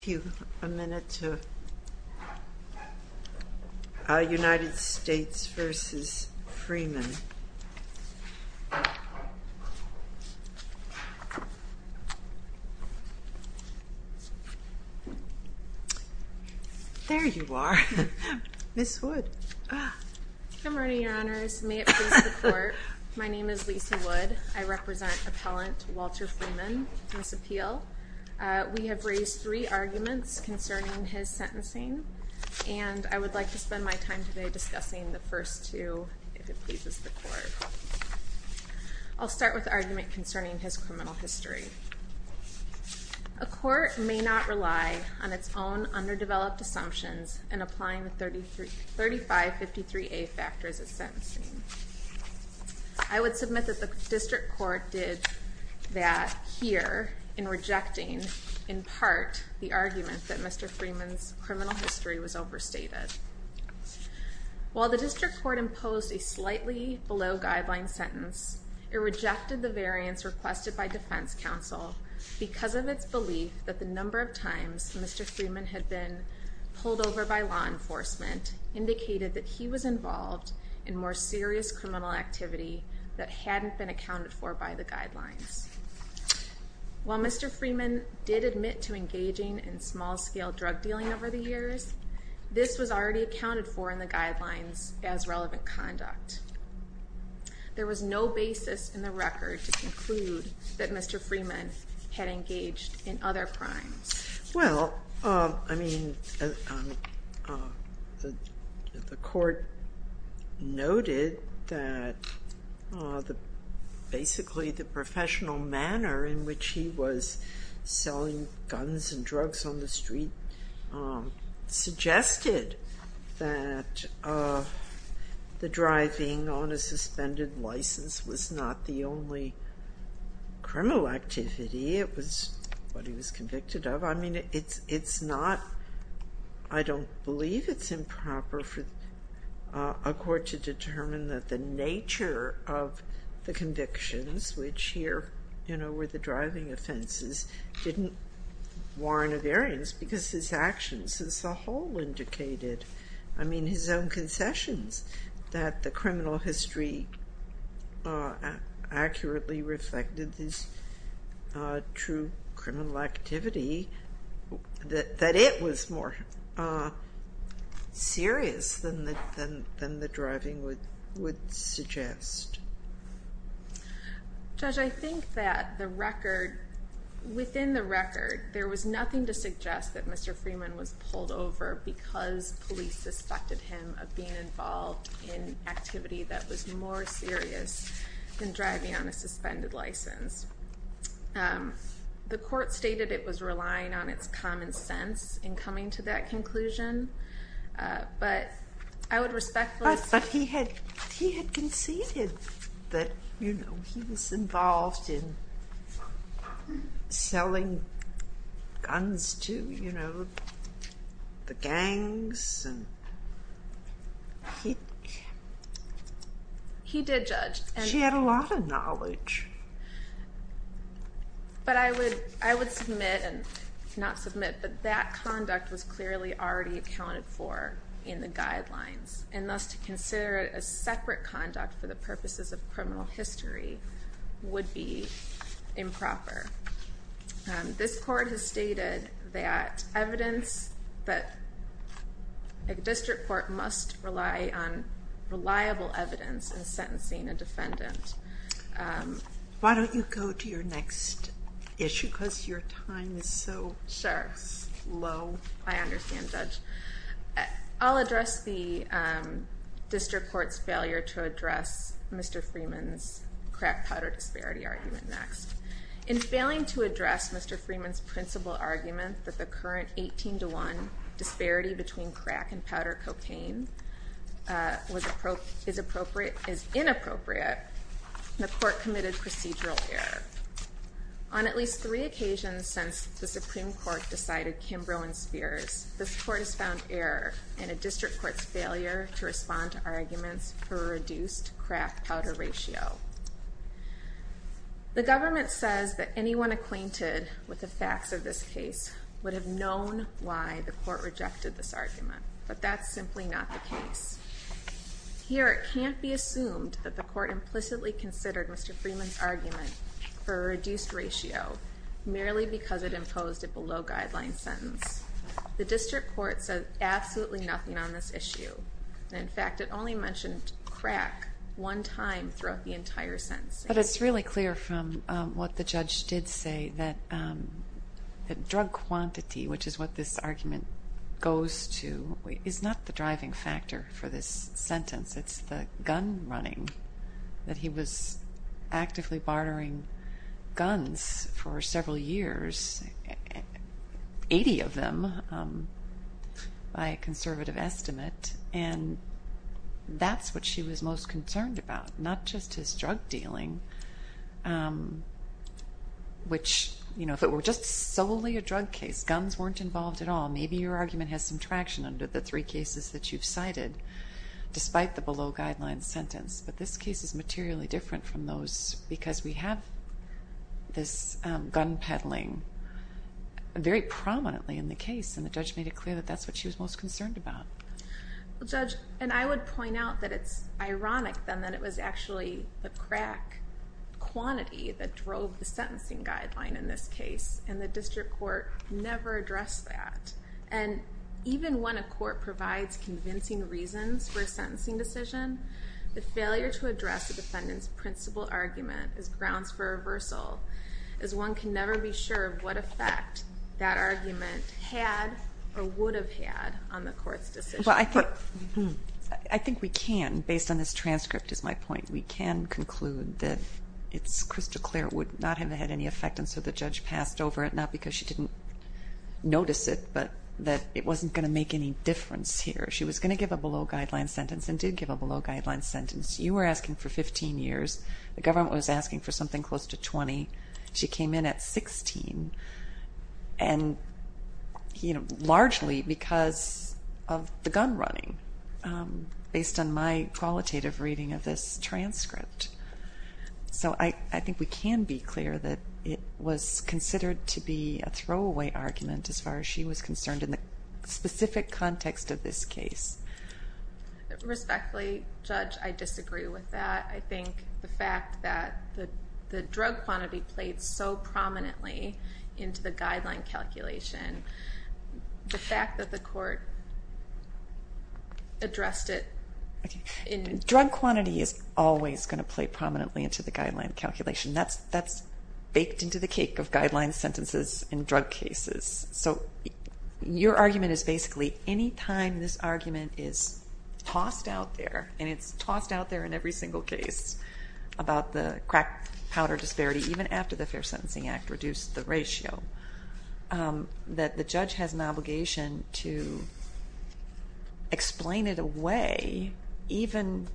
Thank you. A minute to United States v. Freeman. There you are. Ms. Wood. Good morning, Your Honors. May it please the Court, my name is Lise Wood. I represent Appellant Walter Freeman, Miss Appeal. We have raised three arguments concerning his sentencing, and I would like to spend my time today discussing the first two, if it pleases the Court. I'll start with the argument concerning his criminal history. A court may not rely on its own underdeveloped assumptions in applying the 3553A factors of sentencing. I would submit that the District Court did that here in rejecting, in part, the argument that Mr. Freeman's criminal history was overstated. While the District Court imposed a slightly below-guideline sentence, it rejected the variance requested by Defense Counsel because of its belief that the number of times Mr. Freeman had been pulled over by law enforcement indicated that he was involved in more serious criminal activity that hadn't been accounted for by the guidelines. While Mr. Freeman did admit to engaging in small-scale drug dealing over the years, this was already accounted for in the guidelines as relevant conduct. There was no basis in the record to conclude that Mr. Freeman had engaged in other crimes. Well, I mean, the Court noted that basically the professional manner in which he was selling guns and drugs on the street suggested that the driving on a suspended license was not the only criminal activity. It was what he was convicted of. I mean, it's not – I don't believe it's improper for a court to determine that the nature of the convictions, which here, you know, were the driving offenses, didn't warrant a variance because his actions as a whole indicated – I mean, his own concessions that the criminal history accurately reflected his true criminal activity, that it was more serious than the driving would suggest. Judge, I think that the record – within the record, there was nothing to suggest that Mr. Freeman was pulled over because police suspected him of being involved in activity that was more serious than driving on a suspended license. The Court stated it was relying on its common sense in coming to that conclusion, but I would respectfully – But he had conceded that, you know, he was involved in selling guns to, you know, the gangs. He did judge. She had a lot of knowledge. But I would submit – not submit – but that conduct was clearly already accounted for in the guidelines, and thus to consider it as separate conduct for the purposes of criminal history would be improper. This Court has stated that evidence that – a district court must rely on reliable evidence in sentencing a defendant. Why don't you go to your next issue because your time is so slow. I understand, Judge. I'll address the district court's failure to address Mr. Freeman's crack powder disparity argument next. In failing to address Mr. Freeman's principal argument that the current 18-to-1 disparity between crack and powder cocaine is inappropriate, the Court committed procedural error. On at least three occasions since the Supreme Court decided Kimbrough and Spears, this Court has found error in a district court's failure to respond to arguments for a reduced crack-powder ratio. The government says that anyone acquainted with the facts of this case would have known why the Court rejected this argument. But that's simply not the case. Here it can't be assumed that the Court implicitly considered Mr. Freeman's argument for a reduced ratio merely because it imposed a below-guidelines sentence. The district court said absolutely nothing on this issue. In fact, it only mentioned crack one time throughout the entire sentence. But it's really clear from what the judge did say that drug quantity, which is what this argument goes to, is not the driving factor for this sentence. It's the gun running, that he was actively bartering guns for several years, 80 of them by a conservative estimate, and that's what she was most concerned about, not just his drug dealing, which if it were just solely a drug case, guns weren't involved at all, maybe your argument has some traction under the three cases that you've cited, despite the below-guidelines sentence. But this case is materially different from those because we have this gun peddling very prominently in the case, and the judge made it clear that that's what she was most concerned about. Judge, and I would point out that it's ironic, then, that it was actually the crack quantity that drove the sentencing guideline in this case, and the district court never addressed that. And even when a court provides convincing reasons for a sentencing decision, is one can never be sure of what effect that argument had or would have had on the court's decision. Well, I think we can, based on this transcript, is my point. We can conclude that it's crystal clear it would not have had any effect, and so the judge passed over it, not because she didn't notice it, but that it wasn't going to make any difference here. She was going to give a below-guidelines sentence and did give a below-guidelines sentence. You were asking for 15 years. The government was asking for something close to 20. She came in at 16, largely because of the gun running, based on my qualitative reading of this transcript. So I think we can be clear that it was considered to be a throwaway argument as far as she was concerned in the specific context of this case. Respectfully, Judge, I disagree with that. I think the fact that the drug quantity played so prominently into the guideline calculation, the fact that the court addressed it in... Drug quantity is always going to play prominently into the guideline calculation. That's baked into the cake of guideline sentences in drug cases. So your argument is basically any time this argument is tossed out there, and it's tossed out there in every single case about the crack powder disparity, even after the Fair Sentencing Act reduced the ratio, that the judge has an obligation to explain it away, even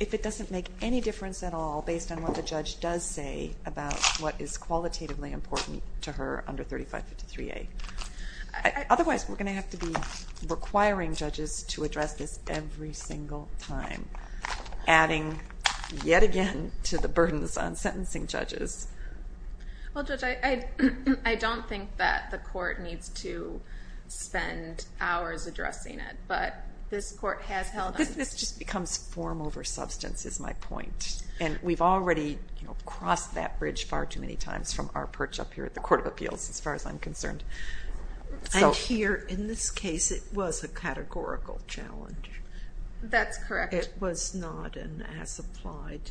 if it doesn't make any difference at all based on what the judge does say about what is qualitatively important to her under 3553A. Otherwise, we're going to have to be requiring judges to address this every single time, adding yet again to the burdens on sentencing judges. Well, Judge, I don't think that the court needs to spend hours addressing it, but this court has held on... This just becomes form over substance, is my point. And we've already crossed that bridge far too many times from our perch up here at the Court of Appeals, as far as I'm concerned. And here, in this case, it was a categorical challenge. That's correct. It was not an as-applied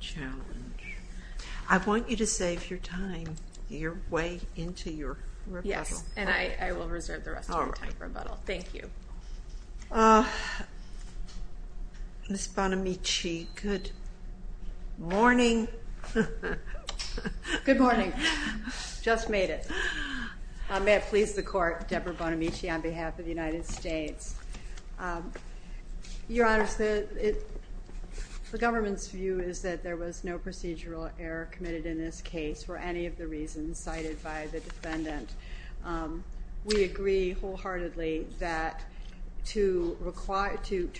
challenge. I want you to save your time, your way into your rebuttal. Yes, and I will reserve the rest of my time for rebuttal. All right. Thank you. Ms. Bonamici, good morning. Good morning. Just made it. May it please the Court, Deborah Bonamici on behalf of the United States. Your Honors, the government's view is that there was no procedural error committed in this case for any of the reasons cited by the defendant. We agree wholeheartedly that to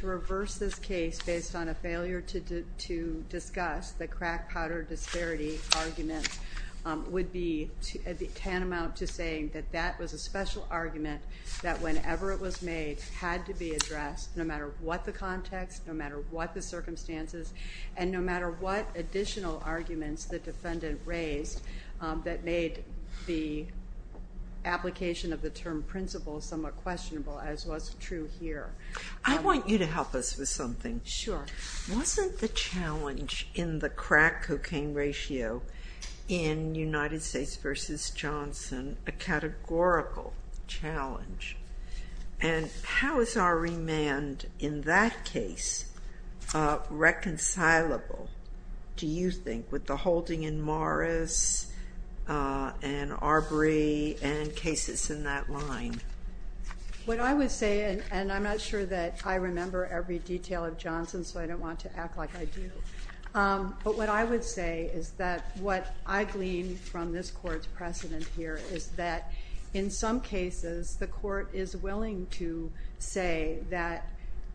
reverse this case based on a failure to discuss the crack powder disparity argument would be tantamount to saying that that was a special argument that, whenever it was made, had to be addressed, no matter what the context, no matter what the circumstances, and no matter what additional arguments the defendant raised that made the application of the term principle somewhat questionable, as was true here. I want you to help us with something. Sure. Wasn't the challenge in the crack cocaine ratio in United States v. Johnson a categorical challenge? And how is our remand in that case reconcilable, do you think, with the holding in Morris and Arbery and cases in that line? What I would say, and I'm not sure that I remember every detail of Johnson, so I don't want to act like I do. But what I would say is that what I glean from this Court's precedent here is that, in some cases, the Court is willing to say that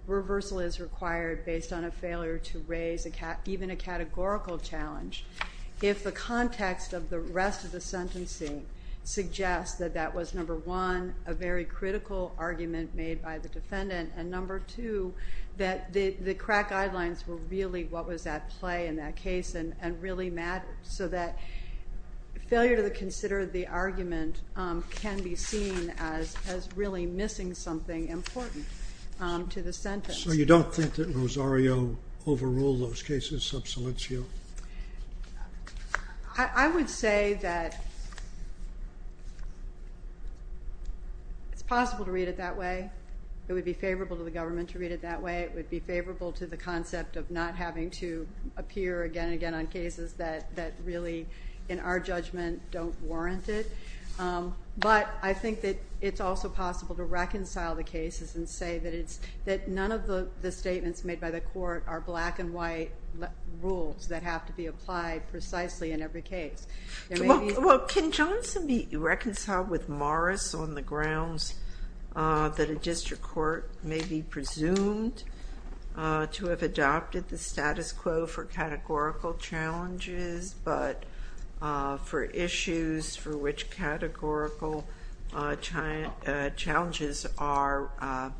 reversal is required based on a failure to raise even a categorical challenge if the context of the rest of the sentencing suggests that that was, number one, a very critical argument made by the defendant, and, number two, that the crack guidelines were really what was at play in that case and really mattered, so that failure to consider the argument can be seen as really missing something important to the sentence. So you don't think that Rosario overruled those cases sub solitio? I would say that it's possible to read it that way. It would be favorable to the government to read it that way. It would be favorable to the concept of not having to appear again and again on cases that really, in our judgment, don't warrant it. But I think that it's also possible to reconcile the cases and say that none of the statements made by the Court are black-and-white rules that have to be applied precisely in every case. Well, can Johnson be reconciled with Morris on the grounds that a district court may be presumed to have adopted the status quo for categorical challenges, but for issues for which categorical challenges are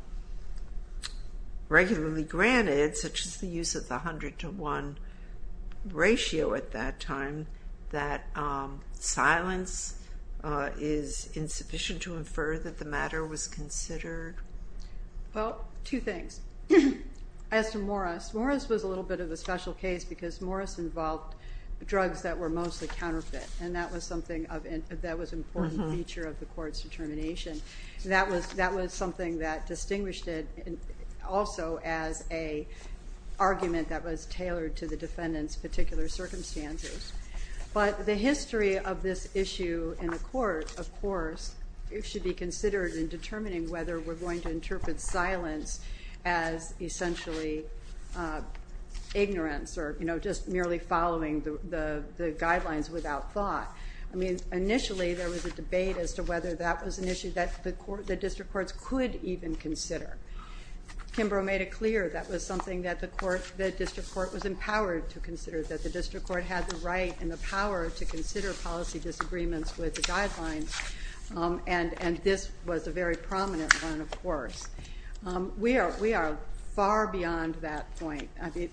regularly granted, such as the use of the 100-to-1 ratio at that time, that silence is insufficient to infer that the matter was considered? Well, two things. As to Morris, Morris was a little bit of a special case because Morris involved drugs that were mostly counterfeit, and that was an important feature of the Court's determination. That was something that distinguished it also as an argument that was tailored to the defendant's particular circumstances. But the history of this issue in the Court, of course, should be considered in determining whether we're going to interpret silence as essentially ignorance or just merely following the guidelines without thought. I mean, initially there was a debate as to whether that was an issue that the district courts could even consider. Kimbrough made it clear that was something that the district court was empowered to consider, that the district court had the right and the power to consider policy disagreements with the guidelines, and this was a very prominent one, of course. We are far beyond that point.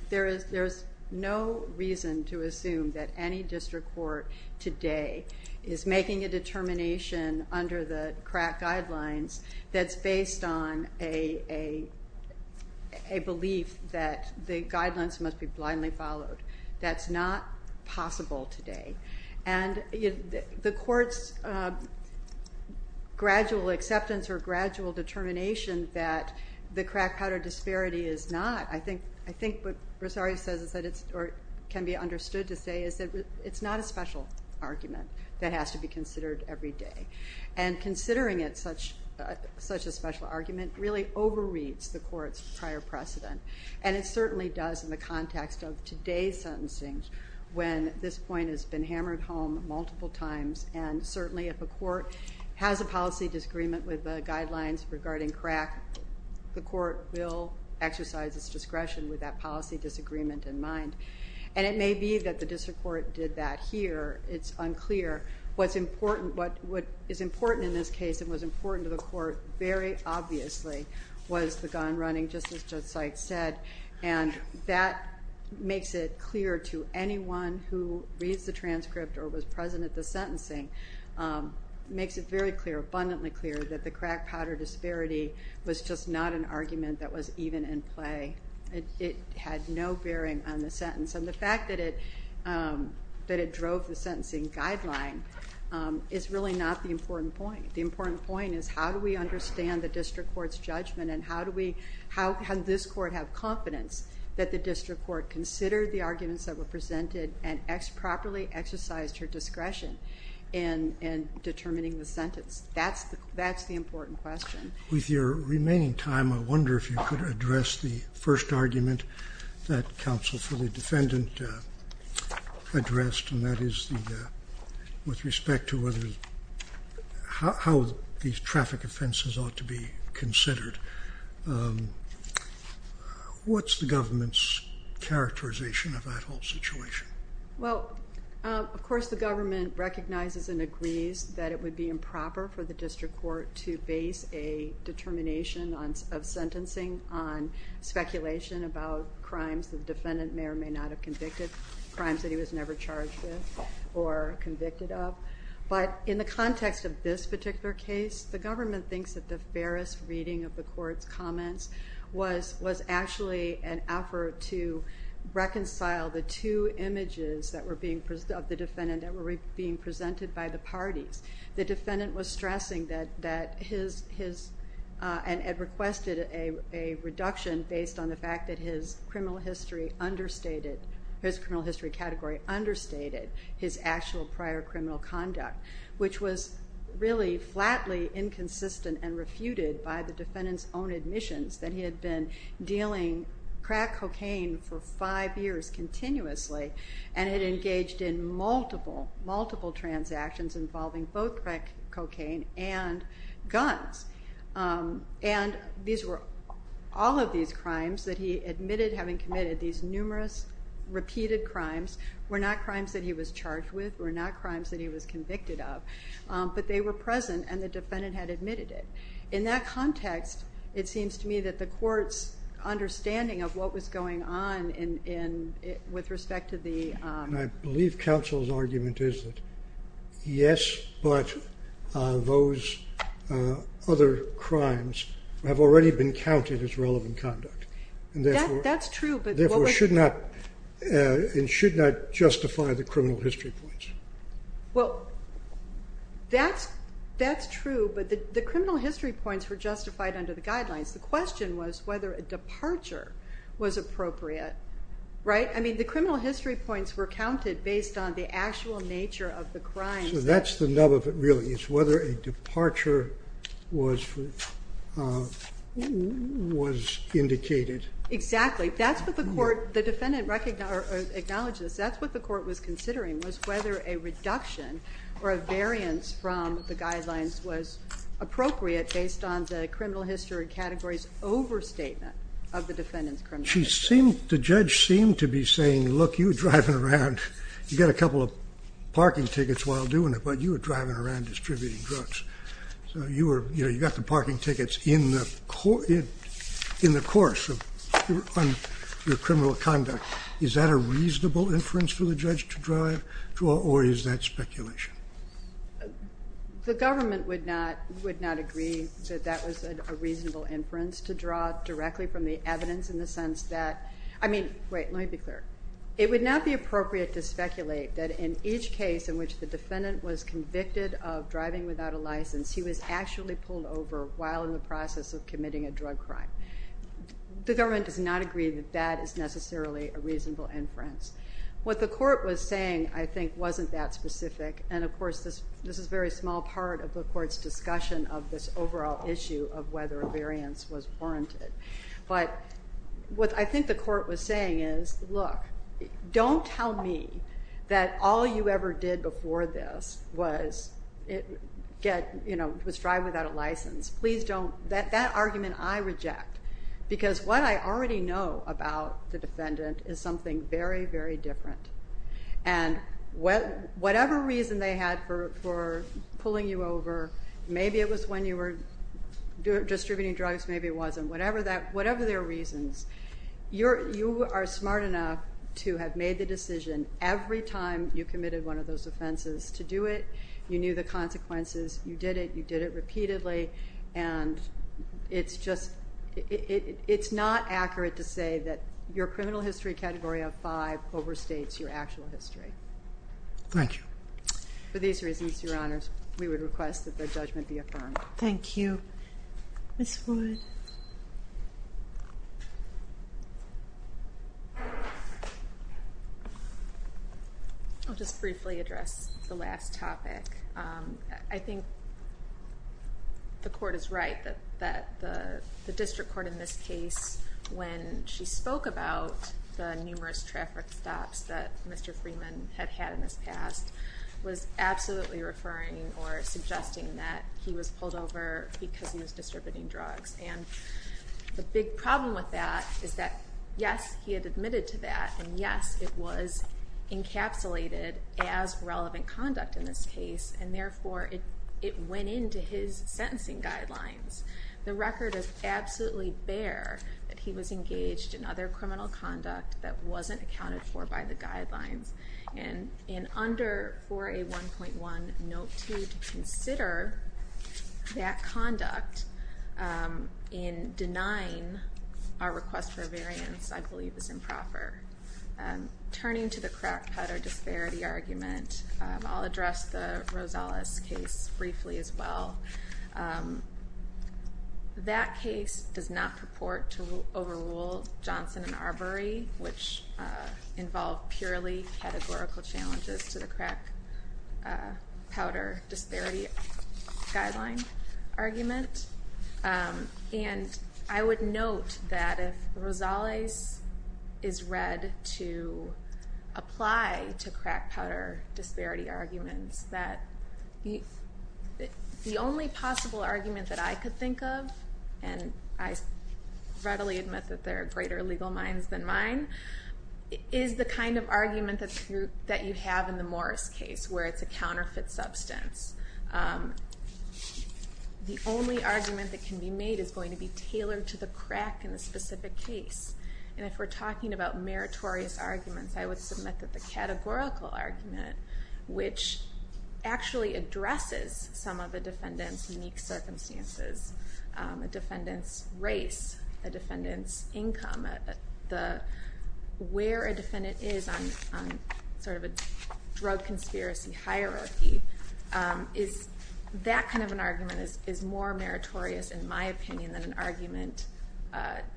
There is no reason to assume that any district court today is making a determination under the CRAC guidelines that's based on a belief that the guidelines must be blindly followed. That's not possible today. And the Court's gradual acceptance or gradual determination that the CRAC powder disparity is not, I think what Rosario says or can be understood to say is that it's not a special argument that has to be considered every day. And considering it such a special argument really overreads the Court's prior precedent, and it certainly does in the context of today's sentencing when this point has been hammered home multiple times, and certainly if a court has a policy disagreement with the guidelines regarding CRAC, the Court will exercise its discretion with that policy disagreement in mind. And it may be that the district court did that here. It's unclear. What is important in this case and was important to the Court very obviously was the gun running, just as Judge Seitz said, and that makes it clear to anyone who reads the transcript or was present at the sentencing, makes it very clear, abundantly clear, that the CRAC powder disparity was just not an argument that was even in play. It had no bearing on the sentence. And the fact that it drove the sentencing guideline is really not the important point. The important point is how do we understand the district court's judgment and how does this court have confidence that the district court considered the arguments that were presented and properly exercised her discretion in determining the sentence? That's the important question. With your remaining time, I wonder if you could address the first argument that counsel for the defendant addressed, and that is with respect to how these traffic offenses ought to be considered. What's the government's characterization of that whole situation? Well, of course the government recognizes and agrees that it would be improper for the district court to base a determination of sentencing on speculation about crimes the defendant may or may not have convicted, crimes that he was never charged with or convicted of. But in the context of this particular case, the government thinks that the fairest reading of the court's comments was actually an effort to reconcile the two images of the defendant that were being presented by the parties. The defendant was stressing that his, and had requested a reduction based on the fact that his criminal history understated, his criminal history category understated his actual prior criminal conduct, which was really flatly inconsistent and refuted by the defendant's own admissions that he had been dealing crack cocaine for five years continuously and had engaged in multiple, multiple transactions involving both crack cocaine and guns. And these were all of these crimes that he admitted having committed these numerous repeated crimes were not crimes that he was charged with, were not crimes that he was convicted of, but they were present and the defendant had admitted it. In that context, it seems to me that the court's understanding of what was going on with respect to the- And I believe counsel's argument is that yes, but those other crimes have already been counted as relevant conduct. That's true, but- And therefore should not, and should not justify the criminal history points. Well, that's true, but the criminal history points were justified under the guidelines. The question was whether a departure was appropriate, right? I mean, the criminal history points were counted based on the actual nature of the crime. So that's the nub of it really. It's whether a departure was indicated. Exactly. That's what the court, the defendant acknowledged this, that's what the court was considering was whether a reduction or a variance from the guidelines was appropriate based on the criminal history category's overstatement of the defendant's criminal history. She seemed, the judge seemed to be saying, look, you were driving around, you got a couple of parking tickets while doing it, but you were driving around distributing drugs. So you were, you know, you got the parking tickets in the course of your criminal conduct. Is that a reasonable inference for the judge to draw or is that speculation? The government would not agree that that was a reasonable inference to draw directly from the evidence in the sense that, I mean, wait, let me be clear. It would not be appropriate to speculate that in each case in which the defendant was convicted of driving without a license, he was actually pulled over while in the process of committing a drug crime. The government does not agree that that is necessarily a reasonable inference. What the court was saying, I think, wasn't that specific. And, of course, this is a very small part of the court's discussion of this overall issue of whether a variance was warranted. But what I think the court was saying is, look, don't tell me that all you ever did before this was drive without a license. Please don't. That argument I reject because what I already know about the defendant is something very, very different. And whatever reason they had for pulling you over, maybe it was when you were distributing drugs, maybe it wasn't, whatever their reasons, you are smart enough to have made the decision every time you committed one of those offenses to do it. You knew the consequences. You did it. You did it repeatedly. And it's just not accurate to say that your criminal history category of five overstates your actual history. Thank you. For these reasons, Your Honors, we would request that the judgment be affirmed. Thank you. Ms. Wood. I'll just briefly address the last topic. I think the court is right that the district court in this case, when she spoke about the numerous traffic stops that Mr. Freeman had had in his past, was absolutely referring or suggesting that he was pulled over because he was distributing drugs. And the big problem with that is that, yes, he had admitted to that, and, yes, it was encapsulated as relevant conduct in this case, and, therefore, it went into his sentencing guidelines. The record is absolutely bare that he was engaged in other criminal conduct that wasn't accounted for by the guidelines. And under 4A1.1 Note 2, to consider that conduct in denying our request for a variance, I believe is improper. Turning to the crack powder disparity argument, I'll address the Rosales case briefly as well. That case does not purport to overrule Johnson and Arbery, which involve purely categorical challenges to the crack powder disparity guideline argument. And I would note that if Rosales is read to apply to crack powder disparity arguments, that the only possible argument that I could think of, and I readily admit that there are greater legal minds than mine, is the kind of argument that you have in the Morris case, where it's a counterfeit substance. The only argument that can be made is going to be tailored to the crack in the specific case. And if we're talking about meritorious arguments, I would submit that the categorical argument, which actually addresses some of a defendant's unique circumstances, a defendant's race, a defendant's income, where a defendant is on sort of a drug conspiracy hierarchy, that kind of an argument is more meritorious, in my opinion, than an argument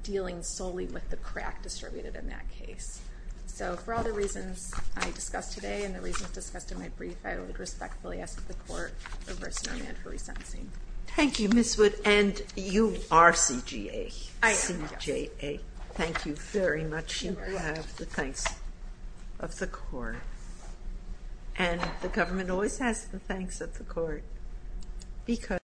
dealing solely with the crack distributed in that case. So for all the reasons I discussed today and the reasons discussed in my brief, I would respectfully ask the Court of Versa No Man for resentencing. Thank you, Ms. Wood, and you are CJA. I am. CJA. Thank you very much. You have the thanks of the Court. And the government always has the thanks of the Court because...